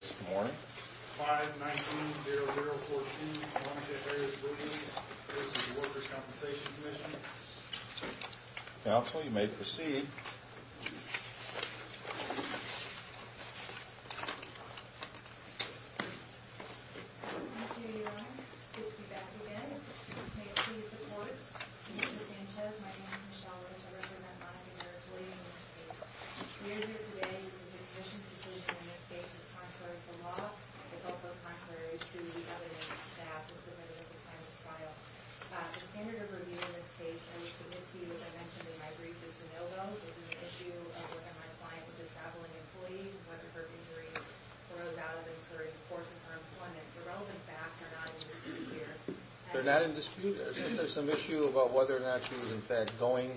Good morning. 5-19-0-0-14. Monica Perez Williams v. The Workers' Compensation Commission. Counsel, you may proceed. Thank you, Your Honor. Good to be back again. May it please the Court, Mr. Sanchez, my name is Michelle Williams. I represent Monica Perez Williams in this case. We are here today because the Commission's decision in this case is contrary to law. It's also contrary to the evidence that was submitted at the time of the trial. The standard of review in this case, and we submit to you, as I mentioned in my brief, is de novo. This is an issue of whether my client was a traveling employee, whether her injury arose out of incurring the force of her employment. The relevant facts are not in dispute here. They're not in dispute? Is there some issue about whether or not she was, in fact, going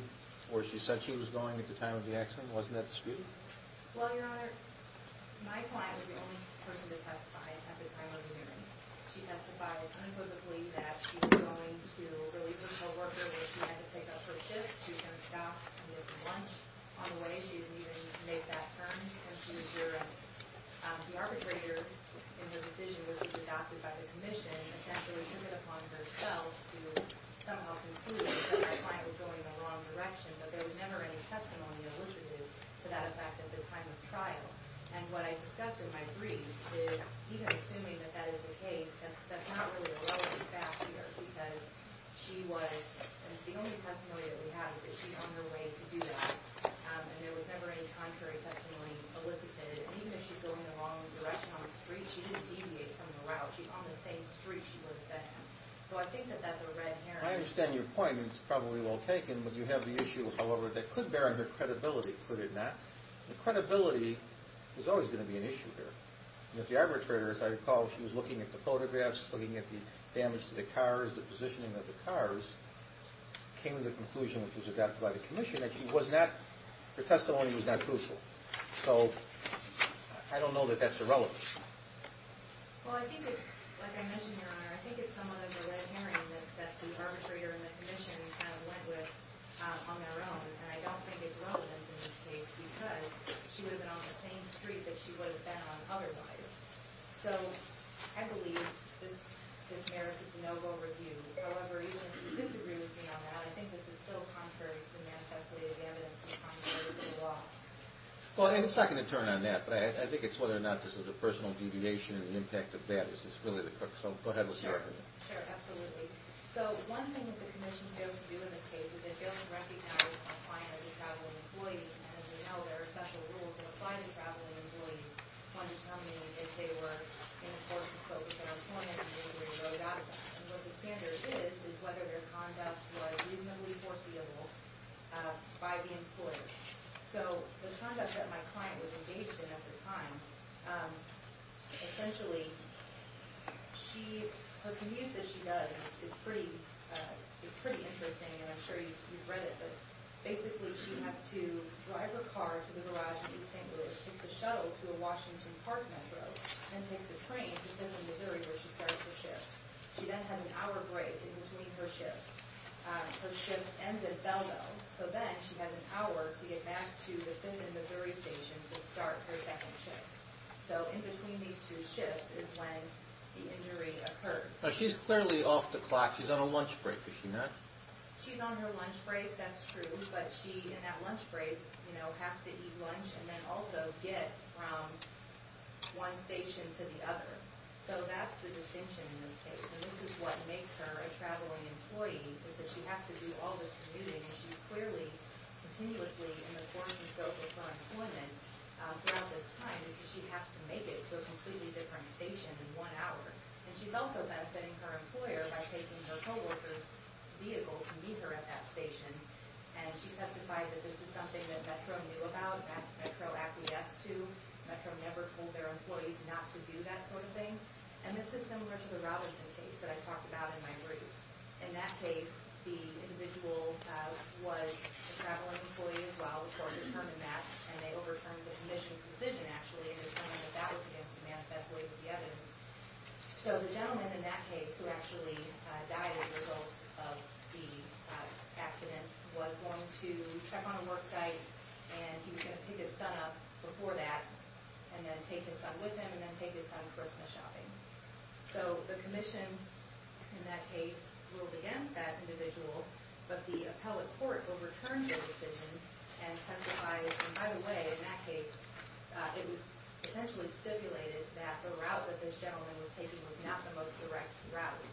where she said she was going at the time of the accident? Wasn't that disputed? Well, Your Honor, my client was the only person to testify at the time of the hearing. She testified unquotably that she was going to relieve her co-worker, but she had to pick up her shift. She was going to stop and get some lunch on the way. She didn't even make that turn. The arbitrator in her decision, which was adopted by the Commission, essentially took it upon herself to somehow conclude that my client was going in the wrong direction, but there was never any testimony elicited to that effect at the time of trial. And what I discussed in my brief is, even assuming that that is the case, that's not really a relevant fact here because she was, and the only testimony that we have is that she's on her way to do that, and there was never any contrary testimony elicited. Even if she's going in the wrong direction on the street, she didn't deviate from the route. She's on the same street she would have been. So I think that that's a red herring. I understand your point, and it's probably well taken, but you have the issue, however, that could bear on her credibility, could it not? Credibility is always going to be an issue here. If the arbitrator, as I recall, she was looking at the photographs, looking at the damage to the cars, the positioning of the cars, came to the conclusion, which was adopted by the commission, that she was not, her testimony was not truthful. So I don't know that that's irrelevant. Well, I think it's, like I mentioned, Your Honor, I think it's somewhat of a red herring that the arbitrator and the commission kind of went with on their own, and I don't think it's relevant in this case because she would have been on the same street that she would have been on otherwise. So I believe this merits a de novo review. However, even if you disagree with me on that, I think this is still contrary to the manifest way of evidence and contrary to the law. Well, and it's not going to turn on that, but I think it's whether or not this is a personal deviation and the impact of that is really the crux. So go ahead with your argument. Sure, absolutely. So one thing that the commission fails to do in this case is it fails to recognize a client as a traveling employee. As you know, there are special rules that apply to traveling employees when determining if they were in force to focus their employment, and if they were to be thrown out of that. And what the standard is is whether their conduct was reasonably foreseeable by the employer. So the conduct that my client was engaged in at the time, essentially, her commute that she does is pretty interesting, and I'm sure you've read it, but basically she has to drive her car to the garage in East St. Louis. She takes a shuttle to a Washington Park metro, and takes a train to Thinthin, Missouri, where she starts her shift. She then has an hour break in between her shifts. Her shift ends at Belleville, so then she has an hour to get back to the Thinthin, Missouri, station to start her second shift. So in between these two shifts is when the injury occurred. She's clearly off the clock. She's on a lunch break, is she not? She's on her lunch break, that's true, but she, in that lunch break, has to eat lunch and then also get from one station to the other. So that's the distinction in this case, and this is what makes her a traveling employee, is that she has to do all this commuting, and she's clearly continuously in the course of her employment throughout this time because she has to make it to a completely different station in one hour. And she's also benefiting her employer by taking her co-worker's vehicle to meet her at that station, and she testified that this is something that Metro knew about, and Metro acquiesced to. Metro never told their employees not to do that sort of thing, and this is similar to the Robinson case that I talked about in my brief. In that case, the individual was a traveling employee as well. The court determined that, and they overturned the commission's decision, actually, in determining that that was against the manifesto of the evidence. So the gentleman in that case, who actually died as a result of the accident, was going to check on a work site, and he was going to pick his son up before that and then take his son with him and then take his son Christmas shopping. So the commission, in that case, ruled against that individual, but the appellate court overturned the decision and testified. And by the way, in that case, it was essentially stipulated that the route that this gentleman was taking was not the most direct route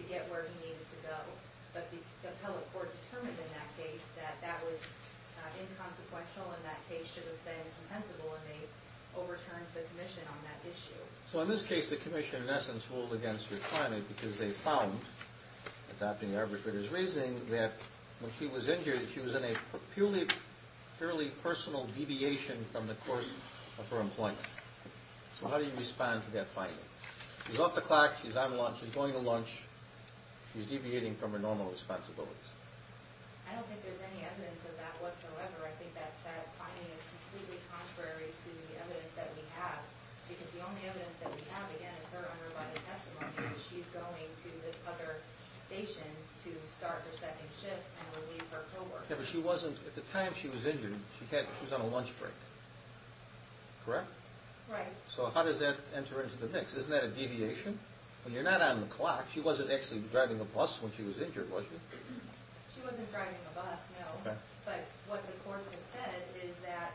to get where he needed to go. But the appellate court determined in that case that that was inconsequential and that case should have been compensable, and they overturned the commission on that issue. So in this case, the commission, in essence, ruled against your client because they found, adopting the arbitrator's reasoning, that when she was injured, she was in a purely personal deviation from the course of her employment. So how do you respond to that finding? She's off the clock, she's on lunch, she's going to lunch, she's deviating from her normal responsibilities. I don't think there's any evidence of that whatsoever. I think that that finding is completely contrary to the evidence that we have because the only evidence that we have, again, is her underlying testimony, that she's going to this other station to start her second shift and relieve her co-worker. Yeah, but she wasn't, at the time she was injured, she was on a lunch break. Correct? Right. So how does that enter into the mix? Isn't that a deviation? When you're not on the clock, she wasn't actually driving a bus when she was injured, was she? She wasn't driving a bus, no. But what the courts have said is that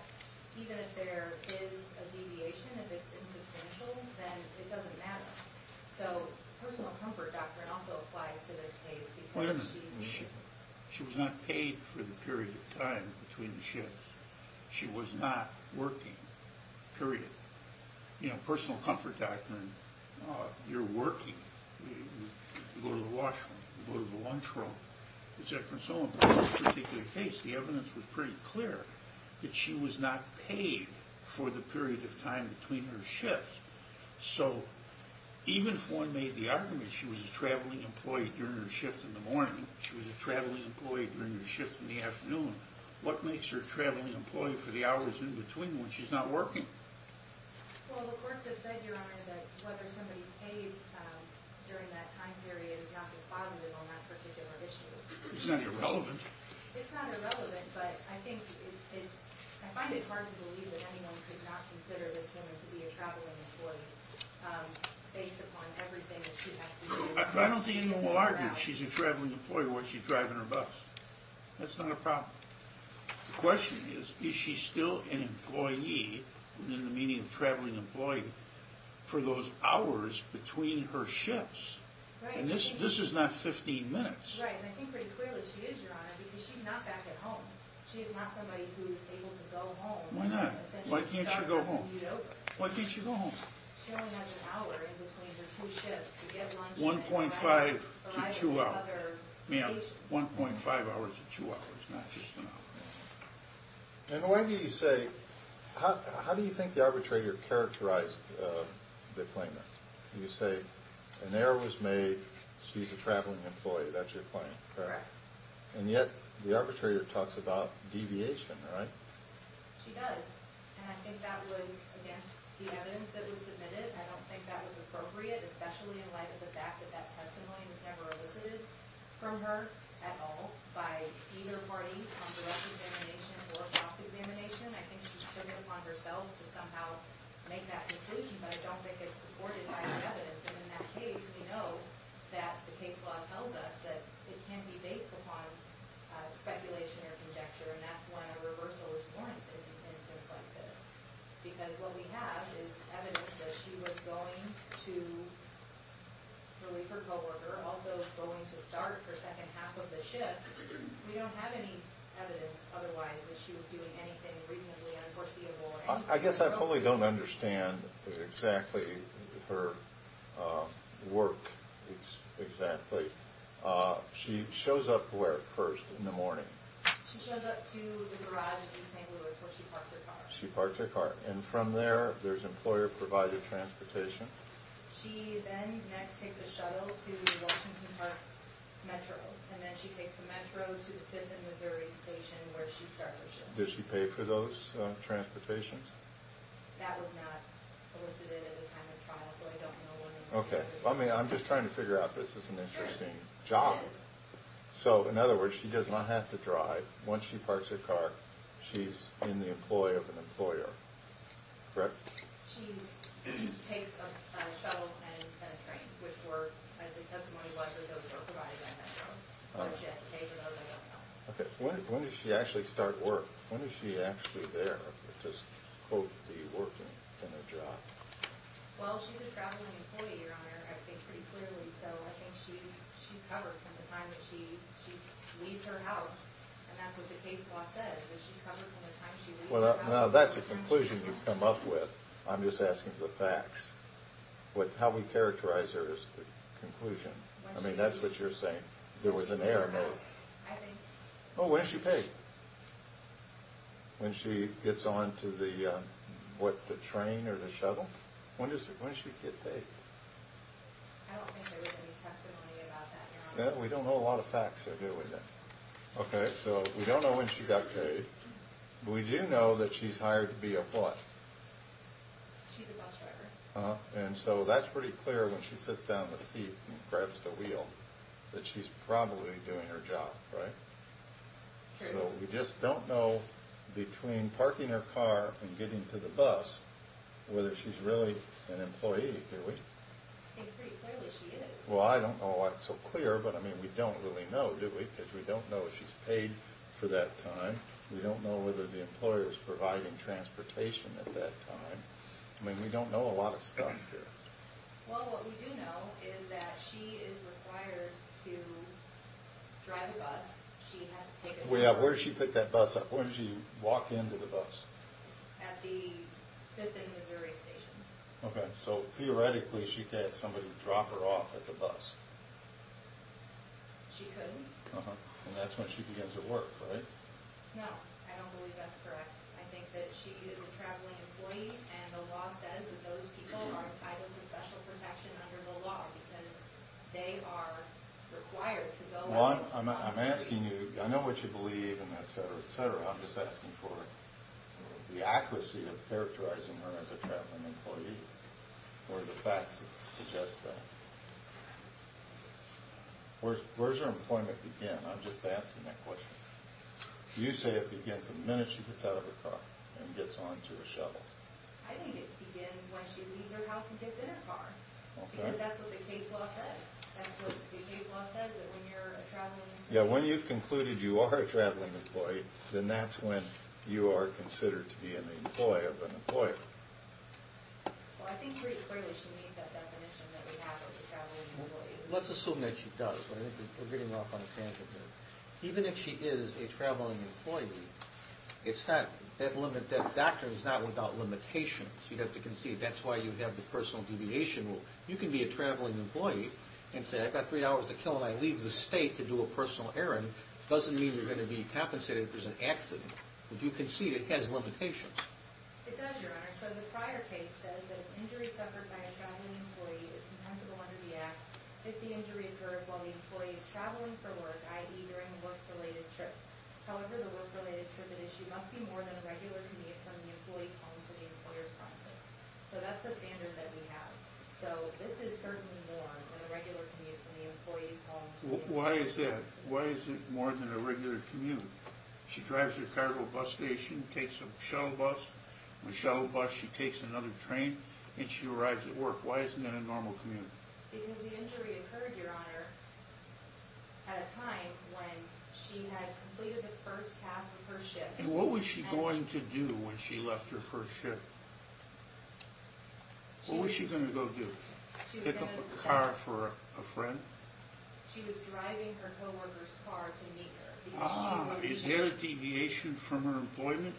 even if there is a deviation, if it's insubstantial, then it doesn't matter. So personal comfort doctrine also applies to this case because she... Wait a minute. She was not paid for the period of time between shifts. She was not working, period. You know, personal comfort doctrine, you're working, you go to the washroom, you go to the lunchroom, etc. In this particular case, the evidence was pretty clear that she was not paid for the period of time between her shifts. So even if one made the argument she was a traveling employee during her shift in the morning, she was a traveling employee during her shift in the afternoon, what makes her a traveling employee for the hours in between when she's not working? Well, the courts have said, Your Honor, that whether somebody's paid during that time period is not dispositive on that particular issue. It's not irrelevant. It's not irrelevant, but I find it hard to believe that anyone could not consider this woman to be a traveling employee based upon everything that she has to do. I don't think anyone will argue that she's a traveling employee while she's driving her bus. That's not a problem. The question is, is she still an employee, in the meaning of traveling employee, for those hours between her shifts? And this is not 15 minutes. Right, and I think pretty clearly she is, Your Honor, because she's not back at home. She is not somebody who is able to go home. Why not? Why can't she go home? Why can't she go home? She only has an hour in between her two shifts. 1.5 to 2 hours. Ma'am, 1.5 hours to 2 hours, not just an hour. And why do you say, how do you think the arbitrator characterized the claimant? You say, an error was made, she's a traveling employee. That's your claim. Correct. And yet, the arbitrator talks about deviation, right? She does. And I think that was against the evidence that was submitted. I don't think that was appropriate, especially in light of the fact that that testimony was never elicited from her at all by either party on direct examination or false examination. I think she took it upon herself to somehow make that conclusion, but I don't think it's supported by the evidence. And in that case, we know that the case law tells us that it can be based upon speculation or conjecture, and that's when a reversal is warranted in an instance like this. Because what we have is evidence that she was going to relieve her co-worker, also going to start her second half of the shift. We don't have any evidence otherwise that she was doing anything reasonably unforeseeable. I guess I totally don't understand exactly her work exactly. She shows up where first in the morning? She shows up to the garage in St. Louis where she parks her car. She parks her car. And from there, there's employer-provided transportation? She then next takes a shuttle to Washington Park Metro, and then she takes the Metro to the Fifth and Missouri Station where she starts her shift. Does she pay for those transportations? That was not elicited at the time of trial, so I don't know when it was. Okay. I'm just trying to figure out if this is an interesting job. So in other words, she does not have to drive. Once she parks her car, she's in the employ of an employer. Correct? She takes a shuttle and a train, which were, the testimony was that those were provided by Metro. Whether she has to pay for those, I don't know. Okay. When does she actually start work? When is she actually there to, quote, be working in a job? Well, she's a traveling employee, Your Honor, I think pretty clearly. So I think she's covered from the time that she leaves her house. And that's what the case law says, that she's covered from the time she leaves her house. Now, that's a conclusion you've come up with. I'm just asking for the facts. How we characterize her is the conclusion. I mean, that's what you're saying. There was an error. Oh, when is she paid? When she gets on to the, what, the train or the shuttle? When does she get paid? I don't think there was any testimony about that, Your Honor. We don't know a lot of facts that deal with that. Okay. So we don't know when she got paid. We do know that she's hired to be a what? She's a bus driver. And so that's pretty clear when she sits down in the seat and grabs the wheel, that she's probably doing her job, right? So we just don't know between parking her car and getting to the bus whether she's really an employee, do we? I think pretty clearly she is. Well, I don't know why it's so clear, but, I mean, we don't really know, do we? Because we don't know if she's paid for that time. We don't know whether the employer is providing transportation at that time. I mean, we don't know a lot of stuff here. Well, what we do know is that she is required to drive a bus. She has to take a bus. Where does she pick that bus up? Where does she walk into the bus? At the 5th and Missouri station. Okay. So theoretically she could have somebody drop her off at the bus. She couldn't. And that's when she begins her work, right? No. I don't believe that's correct. I think that she is a traveling employee, and the law says that those people are entitled to special protection under the law because they are required to go and drive a bus. I'm asking you, I know what you believe and et cetera, et cetera. I'm just asking for the accuracy of characterizing her as a traveling employee or the facts that suggest that. Where does her employment begin? I'm just asking that question. You say it begins the minute she gets out of her car and gets onto a shuttle. I think it begins when she leaves her house and gets in her car. Because that's what the case law says. That's what the case law says that when you're a traveling employee. Yeah, when you've concluded you are a traveling employee, then that's when you are considered to be an employee of an employer. Well, I think pretty clearly she meets that definition that we have of a traveling employee. Let's assume that she does. We're getting off on a tangent here. Even if she is a traveling employee, that doctrine is not without limitations. You have to concede. That's why you have the personal deviation rule. You can be a traveling employee and say, I've got three hours to kill and I leave the state to do a personal errand. It doesn't mean you're going to be compensated if there's an accident. If you concede, it has limitations. It does, Your Honor. So the prior case says that an injury suffered by a traveling employee is compensable under the act if the injury occurs while the employee is traveling for work, i.e. during a work-related trip. However, the work-related trip at issue must be more than a regular commute from the employee's home to the employer's premises. So that's the standard that we have. So this is certainly more than a regular commute from the employee's home to the employer's premises. Why is that? Why is it more than a regular commute? She drives her cargo bus station, takes a shuttle bus, a shuttle bus, she takes another train, and she arrives at work. Why isn't that a normal commute? Because the injury occurred, Your Honor, at a time when she had completed the first half of her shift. And what was she going to do when she left her first shift? What was she going to go do? Pick up a car for a friend? She was driving her co-worker's car to meet her. Is there a deviation from her employment,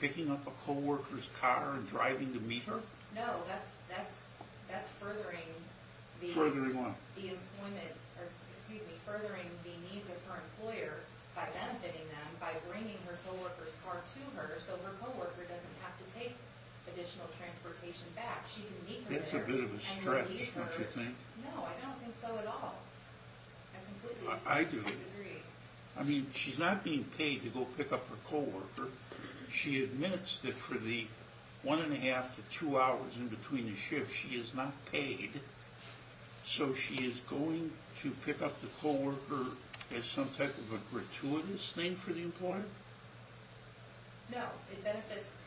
picking up a co-worker's car and driving to meet her? No, that's furthering the needs of her employer by benefiting them, by bringing her co-worker's car to her so her co-worker doesn't have to take additional transportation back. That's a bit of a stretch, don't you think? No, I don't think so at all. I completely disagree. I do. I mean, she's not being paid to go pick up her co-worker. She admits that for the one and a half to two hours in between the shifts, she is not paid. So she is going to pick up the co-worker as some type of a gratuitous thing for the employer? No, it benefits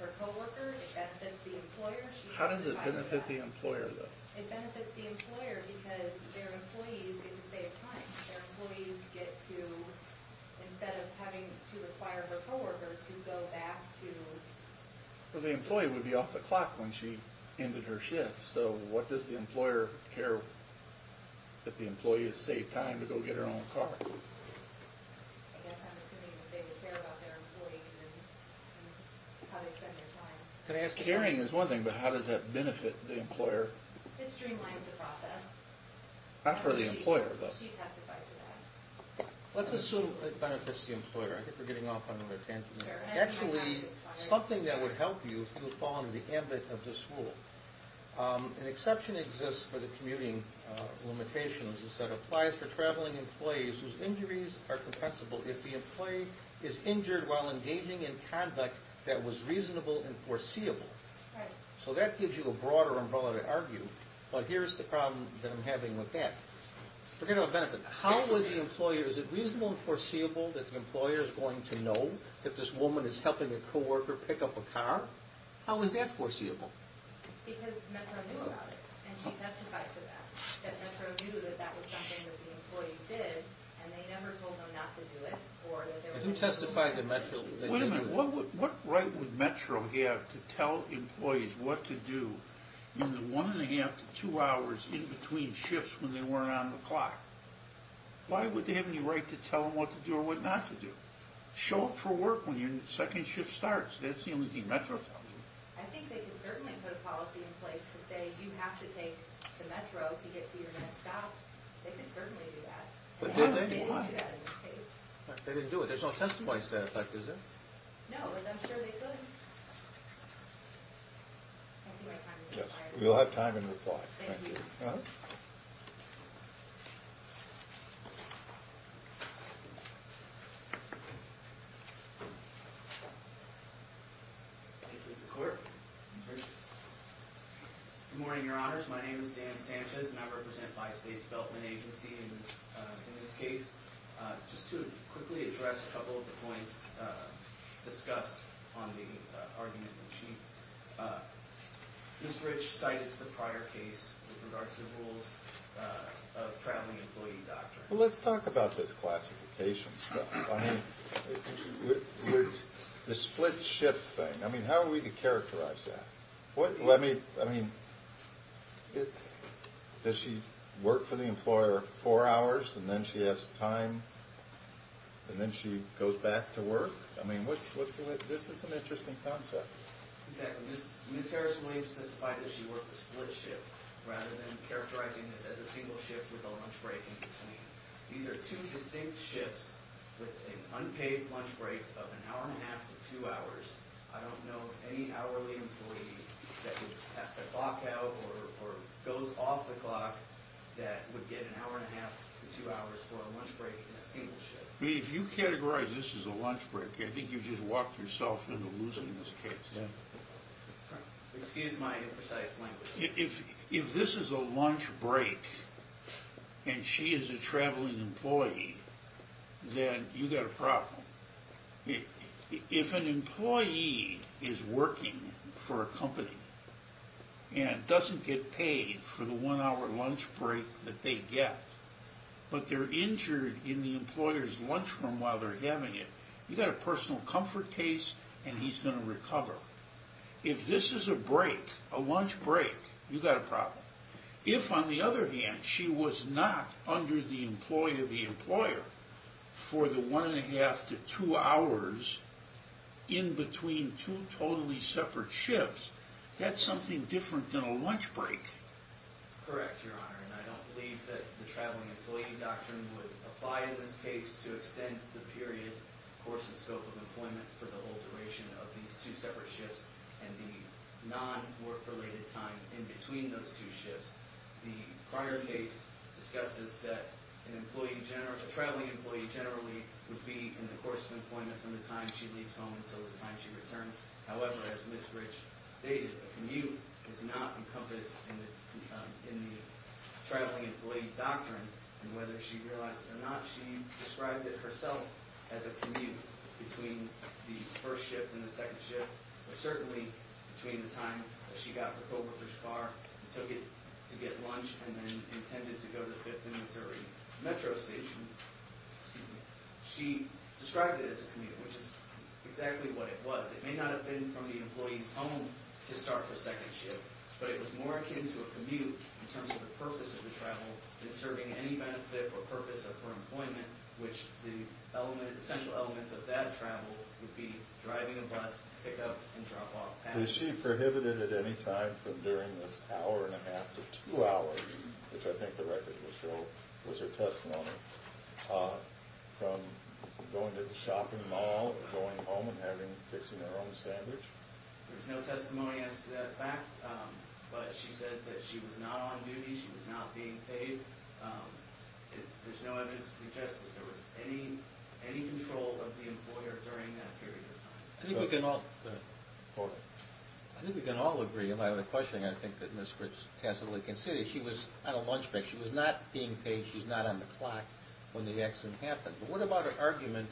her co-worker, it benefits the employer. How does it benefit the employer, though? It benefits the employer because their employees get to save time. Their employees get to, instead of having to require her co-worker to go back to... Well, the employee would be off the clock when she ended her shift, so what does the employer care if the employee has saved time to go get her own car? I guess I'm assuming that they care about their employees and how they spend their time. Caring is one thing, but how does that benefit the employer? It streamlines the process. Not for the employer, though. She testified to that. Let's assume it benefits the employer. I think we're getting off on a tangent here. Actually, something that would help you would fall under the ambit of this rule. An exception exists for the commuting limitations. It says it applies for traveling employees whose injuries are compensable if the employee is injured while engaging in conduct that was reasonable and foreseeable. So that gives you a broader umbrella to argue. But here's the problem that I'm having with that. Forget about benefit. How would the employer... Is it reasonable and foreseeable that the employer is going to know that this woman is helping a co-worker pick up a car? How is that foreseeable? Because Metro knew about it, and she testified to that. That Metro knew that that was something that the employees did, and they never told them not to do it. If you testify to Metro... Wait a minute. What right would Metro have to tell employees what to do in the one-and-a-half to two hours in between shifts when they weren't on the clock? Why would they have any right to tell them what to do or what not to do? Show up for work when your second shift starts. That's the only thing Metro tells them. I think they could certainly put a policy in place to say, you have to take to Metro to get to your next stop. They could certainly do that. But did they do that in this case? They didn't do it. There's no testimony to that effect, is there? No, but I'm sure they could. I see my time has expired. You'll have time in reply. Thank you. Thank you, Mr. Court. Good morning, Your Honors. My name is Dan Sanchez, and I represent Bi-State Development Agency in this case. Just to quickly address a couple of the points discussed on the argument in chief, Ms. Rich cited the prior case with regard to the rules of traveling employee doctrine. Well, let's talk about this classification stuff. I mean, the split-shift thing, I mean, how are we to characterize that? Let me, I mean, does she work for the employer four hours, and then she has time, and then she goes back to work? I mean, this is an interesting concept. Exactly. Ms. Harris-Williams testified that she worked a split-shift, rather than characterizing this as a single shift with a lunch break in between. These are two distinct shifts with an unpaid lunch break of an hour and a half to two hours. I don't know of any hourly employee that would pass the clock out or goes off the clock that would get an hour and a half to two hours for a lunch break in a single shift. If you categorize this as a lunch break, I think you've just walked yourself into losing this case. Excuse my imprecise language. If this is a lunch break, and she is a traveling employee, then you've got a problem. If an employee is working for a company and doesn't get paid for the one-hour lunch break that they get, but they're injured in the employer's lunchroom while they're having it, you've got a personal comfort case, and he's going to recover. If this is a break, a lunch break, you've got a problem. If, on the other hand, she was not under the employee of the employer for the one and a half to two hours in between two totally separate shifts, that's something different than a lunch break. Correct, Your Honor, and I don't believe that the traveling employee doctrine would apply in this case to extend the period, of course, the scope of employment for the whole duration of these two separate shifts and the non-work-related time in between those two shifts. The prior case discusses that a traveling employee generally would be in the course of employment from the time she leaves home until the time she returns. However, as Ms. Rich stated, a commute is not encompassed in the traveling employee doctrine, and whether she realized it or not, she described it herself as a commute between the first shift and the second shift, but certainly between the time that she got the co-worker's car and took it to get lunch and then intended to go to the 5th and Missouri Metro station, she described it as a commute, which is exactly what it was. It may not have been from the employee's home to start her second shift, but it was more akin to a commute in terms of the purpose of the travel than serving any benefit or purpose of her employment, which the essential elements of that travel would be driving a bus to pick up and drop off passengers. Is she prohibited at any time from during this hour and a half to two hours, which I think the record will show was her testimony, from going to the shopping mall or going home and fixing her own sandwich? There's no testimony as to that fact, but she said that she was not on duty, she was not being paid. There's no evidence to suggest that there was any control of the employer during that period of time. I think we can all agree on the question I think that Ms. Fritz tacitly considered. She was on a lunch break, she was not being paid, she was not on the clock when the accident happened. But what about her argument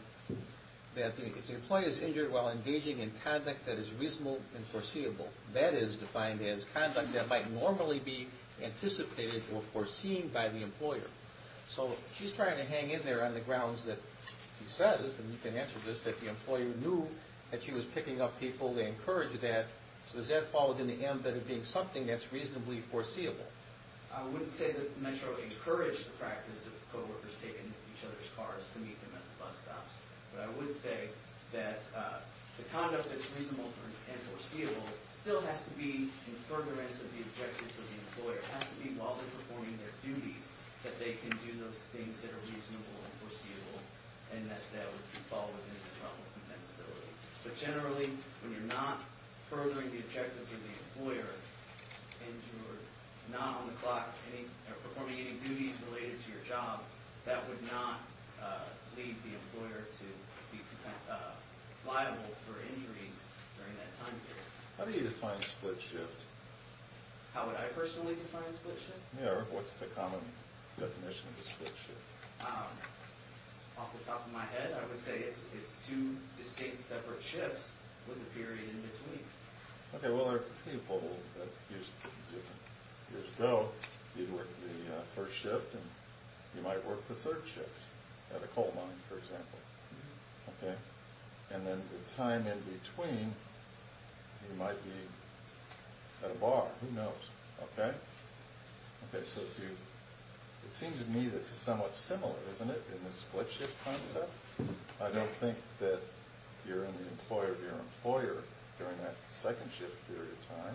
that if the employee is injured while engaging in conduct that is reasonable and foreseeable, that is defined as conduct that might normally be anticipated or foreseen by the employer? So she's trying to hang in there on the grounds that she says, and you can answer this, that the employer knew that she was picking up people, they encouraged that. So is that followed in the end by it being something that's reasonably foreseeable? I wouldn't say that Metro encouraged the practice of co-workers taking each other's cars to meet them at the bus stops. But I would say that the conduct that's reasonable and foreseeable still has to be in furtherance of the objectives of the employer. It has to be while they're performing their duties that they can do those things that are reasonable and foreseeable and that would fall within the realm of compensability. But generally, when you're not furthering the objectives of the employer and you're not on the clock, performing any duties related to your job, that would not leave the employer to be liable for injuries during that time period. How do you define split shift? How would I personally define split shift? Yeah, what's the common definition of a split shift? Off the top of my head, I would say it's two distinct separate shifts with a period in between. Okay, well, there are people that used to do it years ago. You'd work the first shift and you might work the third shift at a coal mine, for example. Okay? And then the time in between, you might be at a bar. Who knows? Okay? Okay, so it seems to me that it's somewhat similar, isn't it, in the split shift concept? I don't think that you're in the employer of your employer during that second shift period of time.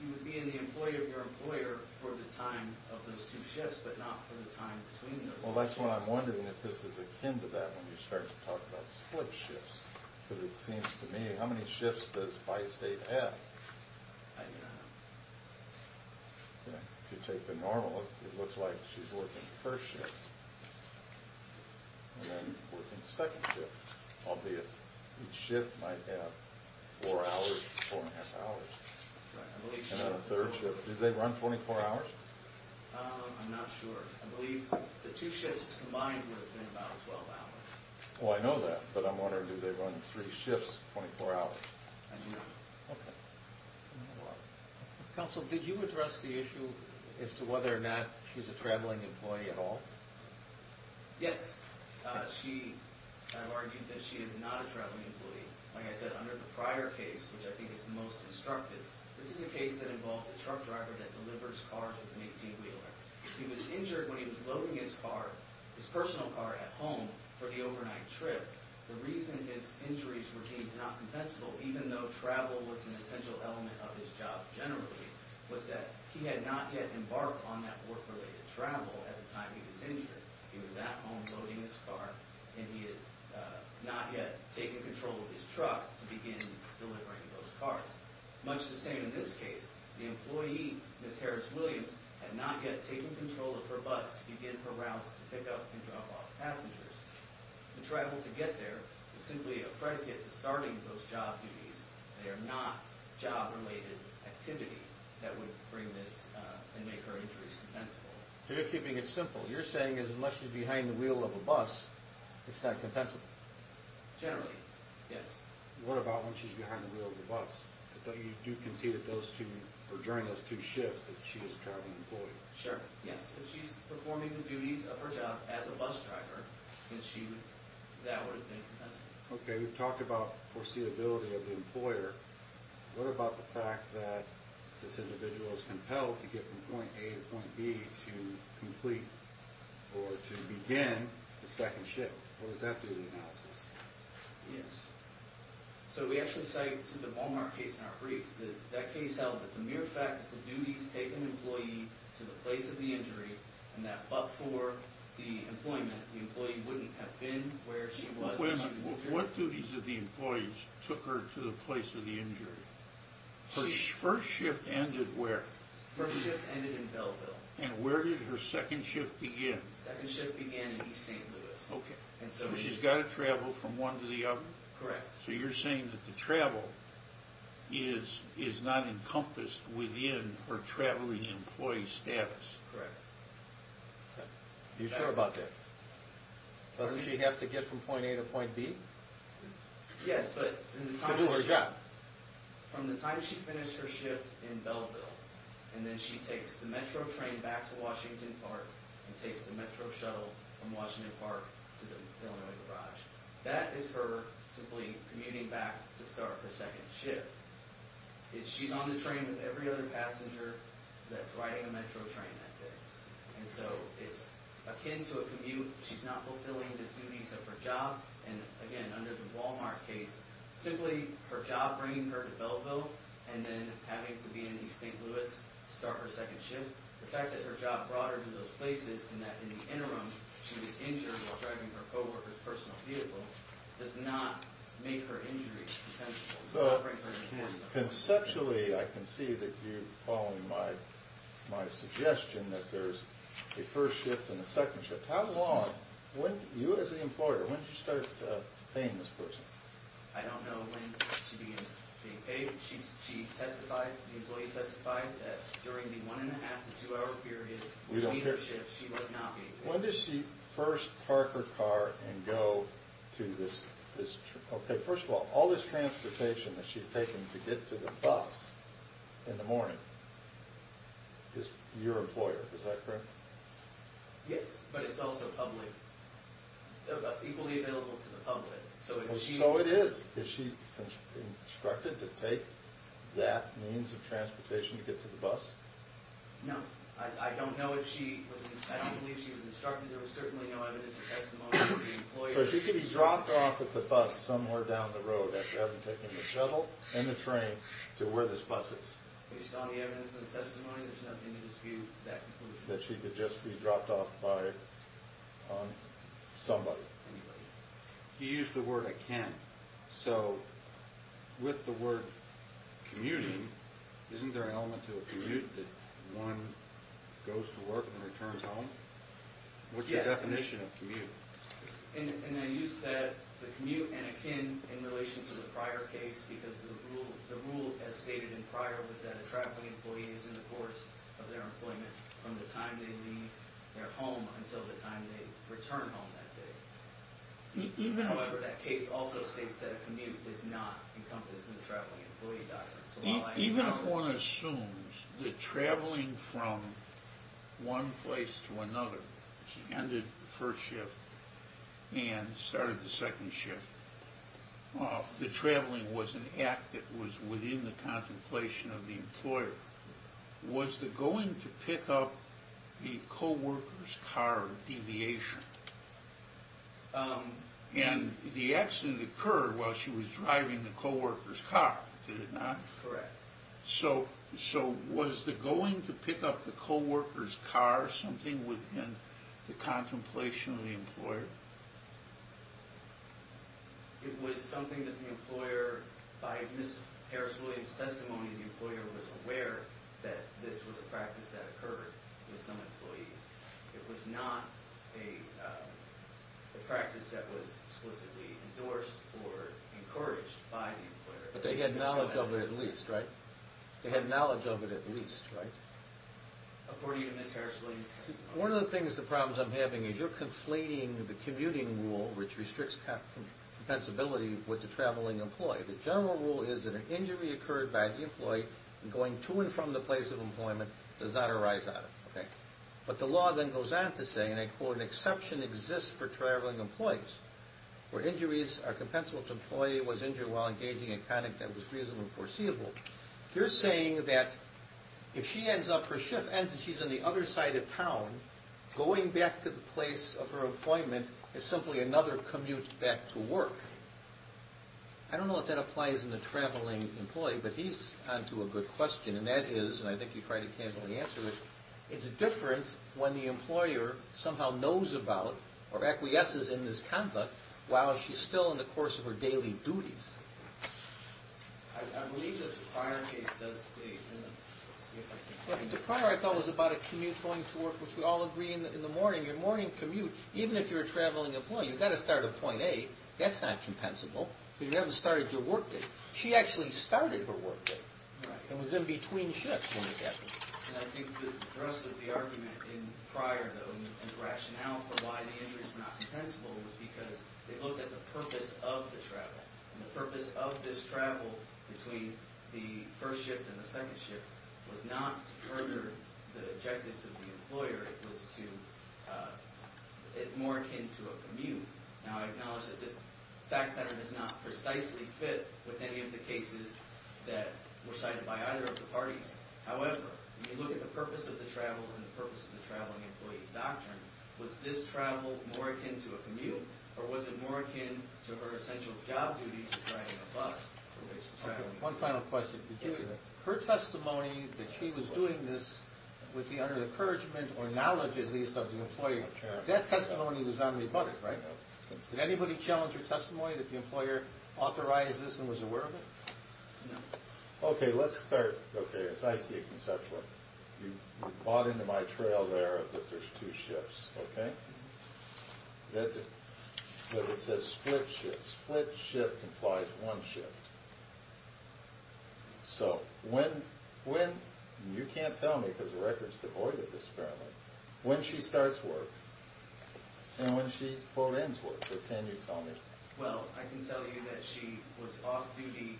You would be in the employer of your employer for the time of those two shifts but not for the time between those two shifts. Well, that's why I'm wondering if this is akin to that when you start to talk about split shifts. Because it seems to me, how many shifts does Bi-State have? I don't know. If you take the normal, it looks like she's working the first shift and then working the second shift. Each shift might have four hours, four and a half hours. And then a third shift. Do they run 24 hours? I'm not sure. I believe the two shifts combined would have been about 12 hours. Well, I know that, but I'm wondering, do they run three shifts 24 hours? I do not know. Counsel, did you address the issue as to whether or not she's a traveling employee at all? Yes. I've argued that she is not a traveling employee. Like I said, under the prior case, which I think is the most instructive, this is a case that involved a truck driver that delivers cars with an 18-wheeler. He was injured when he was loading his car, his personal car, at home for the overnight trip. The reason his injuries were deemed not compensable, even though travel was an essential element of his job generally, was that he had not yet embarked on that work-related travel at the time he was injured. He was at home loading his car, and he had not yet taken control of his truck to begin delivering those cars. Much the same in this case, the employee, Ms. Harris-Williams, had not yet taken control of her bus to begin her routes to pick up and drop off passengers. The travel to get there is simply a predicate to starting those job duties. They are not job-related activity that would bring this and make her injuries compensable. So you're keeping it simple. You're saying that unless she's behind the wheel of a bus, it's not compensable? Generally, yes. What about when she's behind the wheel of the bus? You do concede that during those two shifts that she is a traveling employee. Sure, yes. If she's performing the duties of her job as a bus driver, that would have been compensable. Okay, we've talked about foreseeability of the employer. What about the fact that this individual is compelled to get from point A to point B to complete or to begin the second shift? What does that do to the analysis? Yes. So we actually cite the Walmart case in our brief. That case held that the mere fact that the duties take an employee to the place of the injury and that but for the employment, the employee wouldn't have been where she was. What duties of the employees took her to the place of the injury? Her first shift ended where? First shift ended in Belleville. And where did her second shift begin? Second shift began in East St. Louis. Okay. So she's got to travel from one to the other? Correct. So you're saying that the travel is not encompassed within her traveling employee status? Correct. You sure about that? Doesn't she have to get from point A to point B? Yes, but from the time she finished her shift in Belleville and then she takes the Metro train back to Washington Park and takes the Metro shuttle from Washington Park to the Illinois Garage. That is her simply commuting back to start her second shift. She's on the train with every other passenger that's riding the Metro train that day. And so it's akin to a commute. She's not fulfilling the duties of her job. And again, under the Walmart case, simply her job bringing her to Belleville and then having to be in East St. Louis to start her second shift, the fact that her job brought her to those places and that in the interim she was injured while driving her co-worker's personal vehicle does not make her injury potential. So conceptually I can see that you're following my suggestion that there's a first shift and a second shift. How long, you as the employer, when did you start paying this person? I don't know when she begins being paid. She testified, the employee testified that during the one and a half to two hour period between her shifts she was not being paid. When does she first park her car and go to this? Okay, first of all, all this transportation that she's taking to get to the bus in the morning is your employer, is that correct? Yes, but it's also public, equally available to the public. So it is. Is she instructed to take that means of transportation to get to the bus? No, I don't know if she was, I don't believe she was instructed. There was certainly no evidence or testimony from the employer. So she could be dropped off at the bus somewhere down the road after having taken the shuttle and the train to where this bus is? Based on the evidence and the testimony, there's nothing to dispute that conclusion. That she could just be dropped off by somebody? Anybody. You used the word I can. So with the word commuting, isn't there an element to a commute that one goes to work and then returns home? What's your definition of commute? And then you said the commute and akin in relation to the prior case because the rule as stated in prior was that a traveling employee is in the course of their employment from the time they leave their home until the time they return home that day. However, that case also states that a commute is not encompassed in the traveling employee doctrine. Even if one assumes that traveling from one place to another, she ended the first shift and started the second shift, the traveling was an act that was within the contemplation of the employer, was the going to pick up the co-worker's car a deviation? And the accident occurred while she was driving the co-worker's car, did it not? Correct. So was the going to pick up the co-worker's car something within the contemplation of the employer? It was something that the employer, by Ms. Harris-Williams' testimony, the employer was aware that this was a practice that occurred with some employees. It was not a practice that was explicitly endorsed or encouraged by the employer. But they had knowledge of it at least, right? They had knowledge of it at least, right? According to Ms. Harris-Williams' testimony. One of the things, the problems I'm having is you're conflating the commuting rule, which restricts compensability with the traveling employee. The general rule is that an injury occurred by the employee and going to and from the place of employment does not arise out of it, okay? But the law then goes on to say, and I quote, an exception exists for traveling employees where injuries are compensable if the employee was injured while engaging in conduct that was reasonable and foreseeable. You're saying that if she ends up, her shift ends and she's on the other side of town, going back to the place of her employment is simply another commute back to work. I don't know if that applies in the traveling employee, but he's on to a good question, and that is, and I think he tried to candidly answer it, it's different when the employer somehow knows about or acquiesces in this conduct while she's still in the course of her daily duties. I believe that the prior case does state that. The prior I thought was about a commute going to work, which we all agree in the morning, your morning commute, even if you're a traveling employee, you've got to start at point A. That's not compensable because you haven't started your work day. She actually started her work day and was in between shifts when this happened. And I think the thrust of the argument in prior, though, and the rationale for why the injuries were not compensable was because they looked at the purpose of the travel, and the purpose of this travel between the first shift and the second shift was not to further the objectives of the employer. It was more akin to a commute. Now, I acknowledge that this fact pattern does not precisely fit with any of the cases that were cited by either of the parties. However, when you look at the purpose of the travel and the purpose of the traveling employee doctrine, was this travel more akin to a commute, or was it more akin to her essential job duties of driving a bus? One final question. Her testimony that she was doing this with the under-encouragement, or knowledge at least, of the employer, that testimony was on the bucket, right? Did anybody challenge her testimony that the employer authorized this and was aware of it? No. Okay, let's start, okay, as I see it conceptually. You bought into my trail there that there's two shifts, okay? But it says split shift. Split shift implies one shift. So when, you can't tell me because the record's devoid of this apparently, when she starts work and when she, quote, ends work. So can you tell me? Well, I can tell you that she was off duty.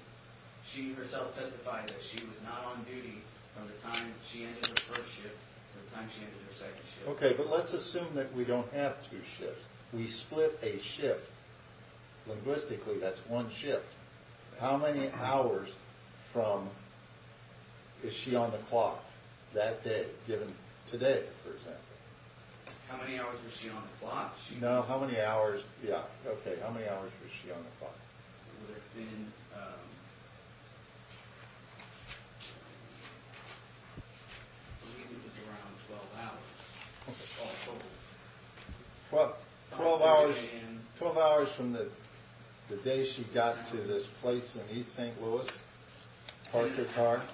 She herself testified that she was not on duty from the time she entered her first shift to the time she entered her second shift. Okay, but let's assume that we don't have two shifts. We split a shift. Linguistically, that's one shift. How many hours from, is she on the clock that day, given today, for example? How many hours was she on the clock? No, how many hours, yeah, okay, how many hours was she on the clock? It would have been, I believe it was around 12 hours. 12 hours from the day she got to this place in East St. Louis, parked her car. That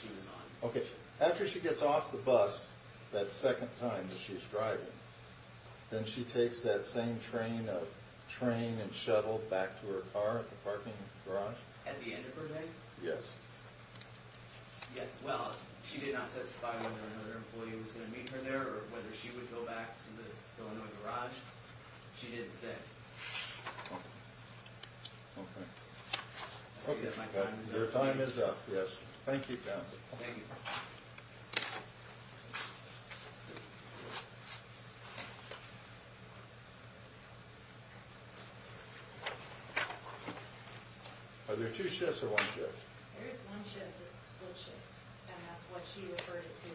she was on. Okay, after she gets off the bus that second time that she's driving, then she takes that same train and shuttle back to her car at the parking garage? At the end of her day? Yes. Yeah, well, she did not testify whether another employee was going to meet her there or whether she would go back to the Illinois garage. She didn't say. Okay. I see that my time is up. Your time is up, yes. Thank you, counsel. Thank you. Are there two shifts or one shift? There is one shift, a split shift, and that's what she referred to.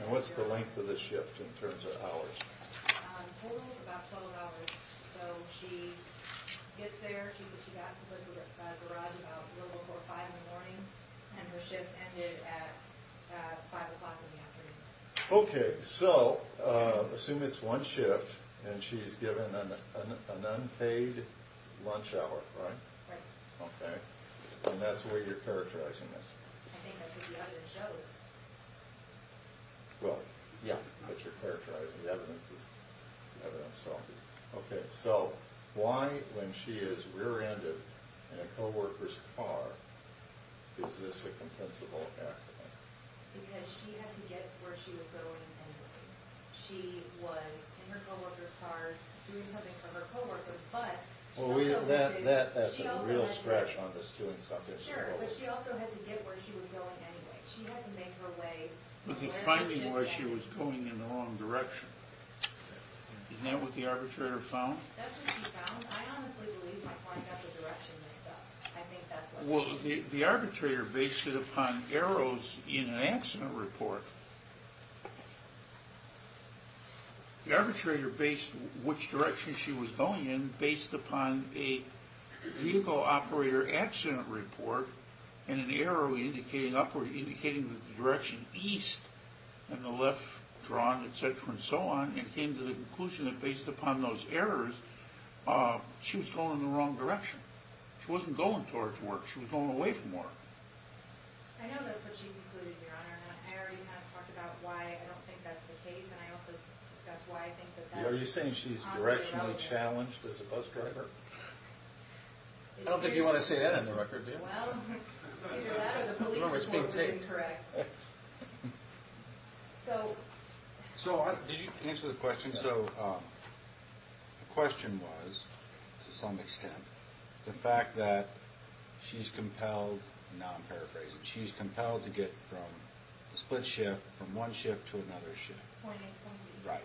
And what's the length of the shift in terms of hours? Totally about 12 hours. So she gets there, she's at the garage about a little before 5 in the morning, and her shift ended at 5 o'clock in the afternoon. Okay, so assume it's one shift and she's given an unpaid lunch hour, right? Right. Okay. And that's the way you're characterizing this. I think that's what the evidence shows. Well, yeah, that's what you're characterizing. The evidence is self-evident. Okay, so why when she is rear-ended in a co-worker's car is this a compensable accident? Because she had to get where she was going anyway. She was in her co-worker's car doing something for her co-worker. Well, that's a real stretch on this doing something for a co-worker. Sure, but she also had to get where she was going anyway. She had to make her way. The finding was she was going in the wrong direction. Isn't that what the arbitrator found? That's what she found. I think that's what she did. Well, the arbitrator based it upon arrows in an accident report. The arbitrator based which direction she was going in based upon a vehicle operator accident report and an arrow indicating the direction east and the left drawn, et cetera, and so on, and came to the conclusion that based upon those errors she was going in the wrong direction. She wasn't going towards work. She was going away from work. I know that's what she concluded, Your Honor, and I already have talked about why I don't think that's the case, and I also discussed why I think that that's a positive outcome. Are you saying she's directionally challenged as a bus driver? I don't think you want to say that on the record, do you? Well, either that or the police report was incorrect. So did you answer the question? I think so. The question was, to some extent, the fact that she's compelled, now I'm paraphrasing, she's compelled to get from a split shift from one shift to another shift. Right.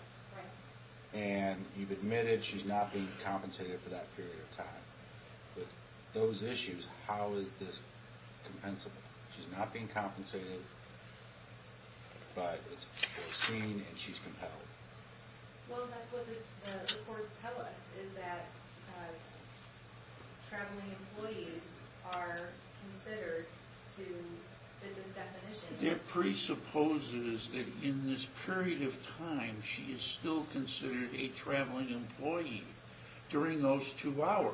And you've admitted she's not being compensated for that period of time. With those issues, how is this compensable? She's not being compensated, but it's foreseen and she's compelled. Well, that's what the reports tell us, is that traveling employees are considered to fit this definition. It presupposes that in this period of time, she is still considered a traveling employee during those two hours.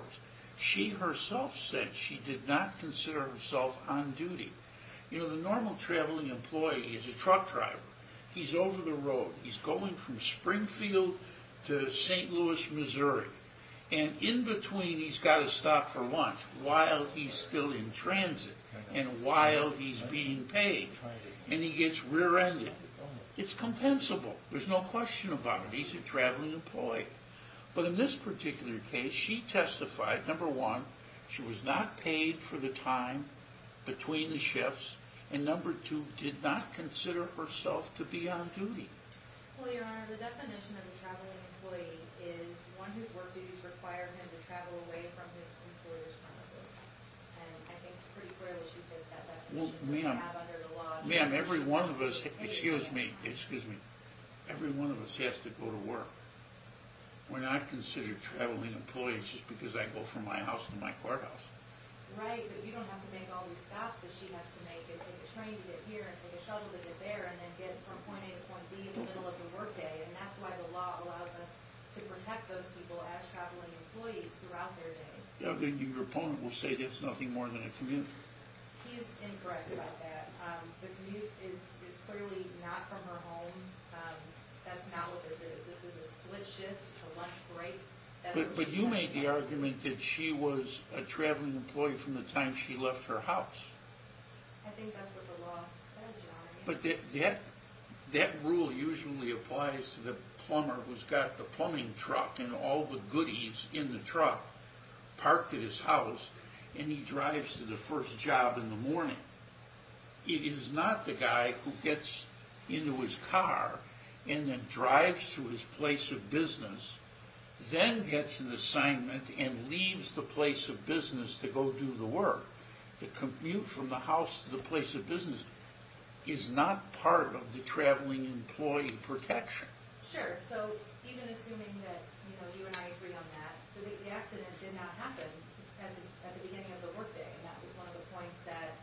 She herself said she did not consider herself on duty. You know, the normal traveling employee is a truck driver. He's over the road. He's going from Springfield to St. Louis, Missouri. And in between, he's got to stop for lunch while he's still in transit and while he's being paid. And he gets rear-ended. It's compensable. There's no question about it. He's a traveling employee. But in this particular case, she testified, number one, she was not paid for the time between the shifts. And number two, did not consider herself to be on duty. Well, Your Honor, the definition of a traveling employee is one whose work duties require him to travel away from his employer's premises. And I think pretty clearly she fits that definition. Ma'am, every one of us has to go to work. We're not considered traveling employees just because I go from my house to my courthouse. Right, but you don't have to make all these stops that she has to make and take a train to get here and take a shuttle to get there and then get from point A to point B in the middle of the workday. And that's why the law allows us to protect those people as traveling employees throughout their day. Your opponent will say that's nothing more than a commute. He is incorrect about that. The commute is clearly not from her home. That's not what this is. This is a split shift, a lunch break. But you made the argument that she was a traveling employee from the time she left her house. I think that's what the law says, Your Honor. But that rule usually applies to the plumber who's got the plumbing truck and all the goodies in the truck, parked at his house, and he drives to the first job in the morning. It is not the guy who gets into his car and then drives to his place of business, then gets an assignment and leaves the place of business to go do the work. The commute from the house to the place of business is not part of the traveling employee protection. Sure, so even assuming that you and I agree on that, the accident did not happen at the beginning of the workday. And that was one of the points that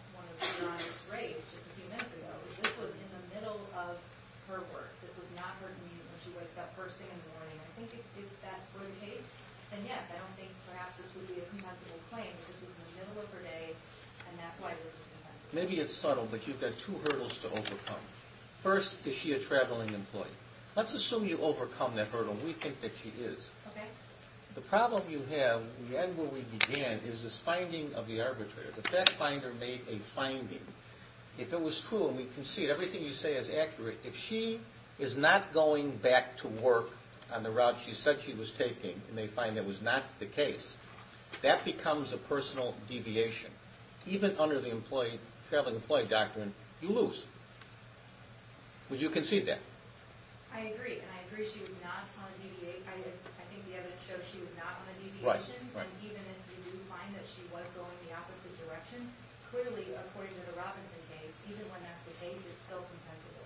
Your Honor just raised just a few minutes ago. This was in the middle of her work. This was not her commute when she wakes up first thing in the morning. I think you did that for the case. And yes, I don't think perhaps this would be a compensable claim. This was in the middle of her day, and that's why this is compensable. Maybe it's subtle, but you've got two hurdles to overcome. First, is she a traveling employee? Let's assume you overcome that hurdle, and we think that she is. Okay. The problem you have at the end where we began is this finding of the arbitrator. The fact finder made a finding. If it was true, and we concede everything you say is accurate, if she is not going back to work on the route she said she was taking and they find that was not the case, that becomes a personal deviation. Even under the traveling employee doctrine, you lose. Would you concede that? I agree, and I agree she was not trying to deviate. I think the evidence shows she was not on a deviation, and even if you do find that she was going the opposite direction, clearly, according to the Robinson case, even when that's the case, it's still compensable.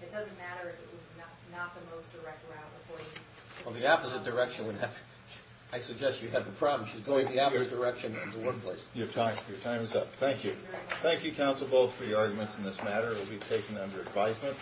It doesn't matter if it was not the most direct route. Well, the opposite direction would have—I suggest you have the problem. She's going the opposite direction into one place. Your time is up. Thank you. Thank you, counsel, both, for your arguments in this matter. It will be taken under advisement.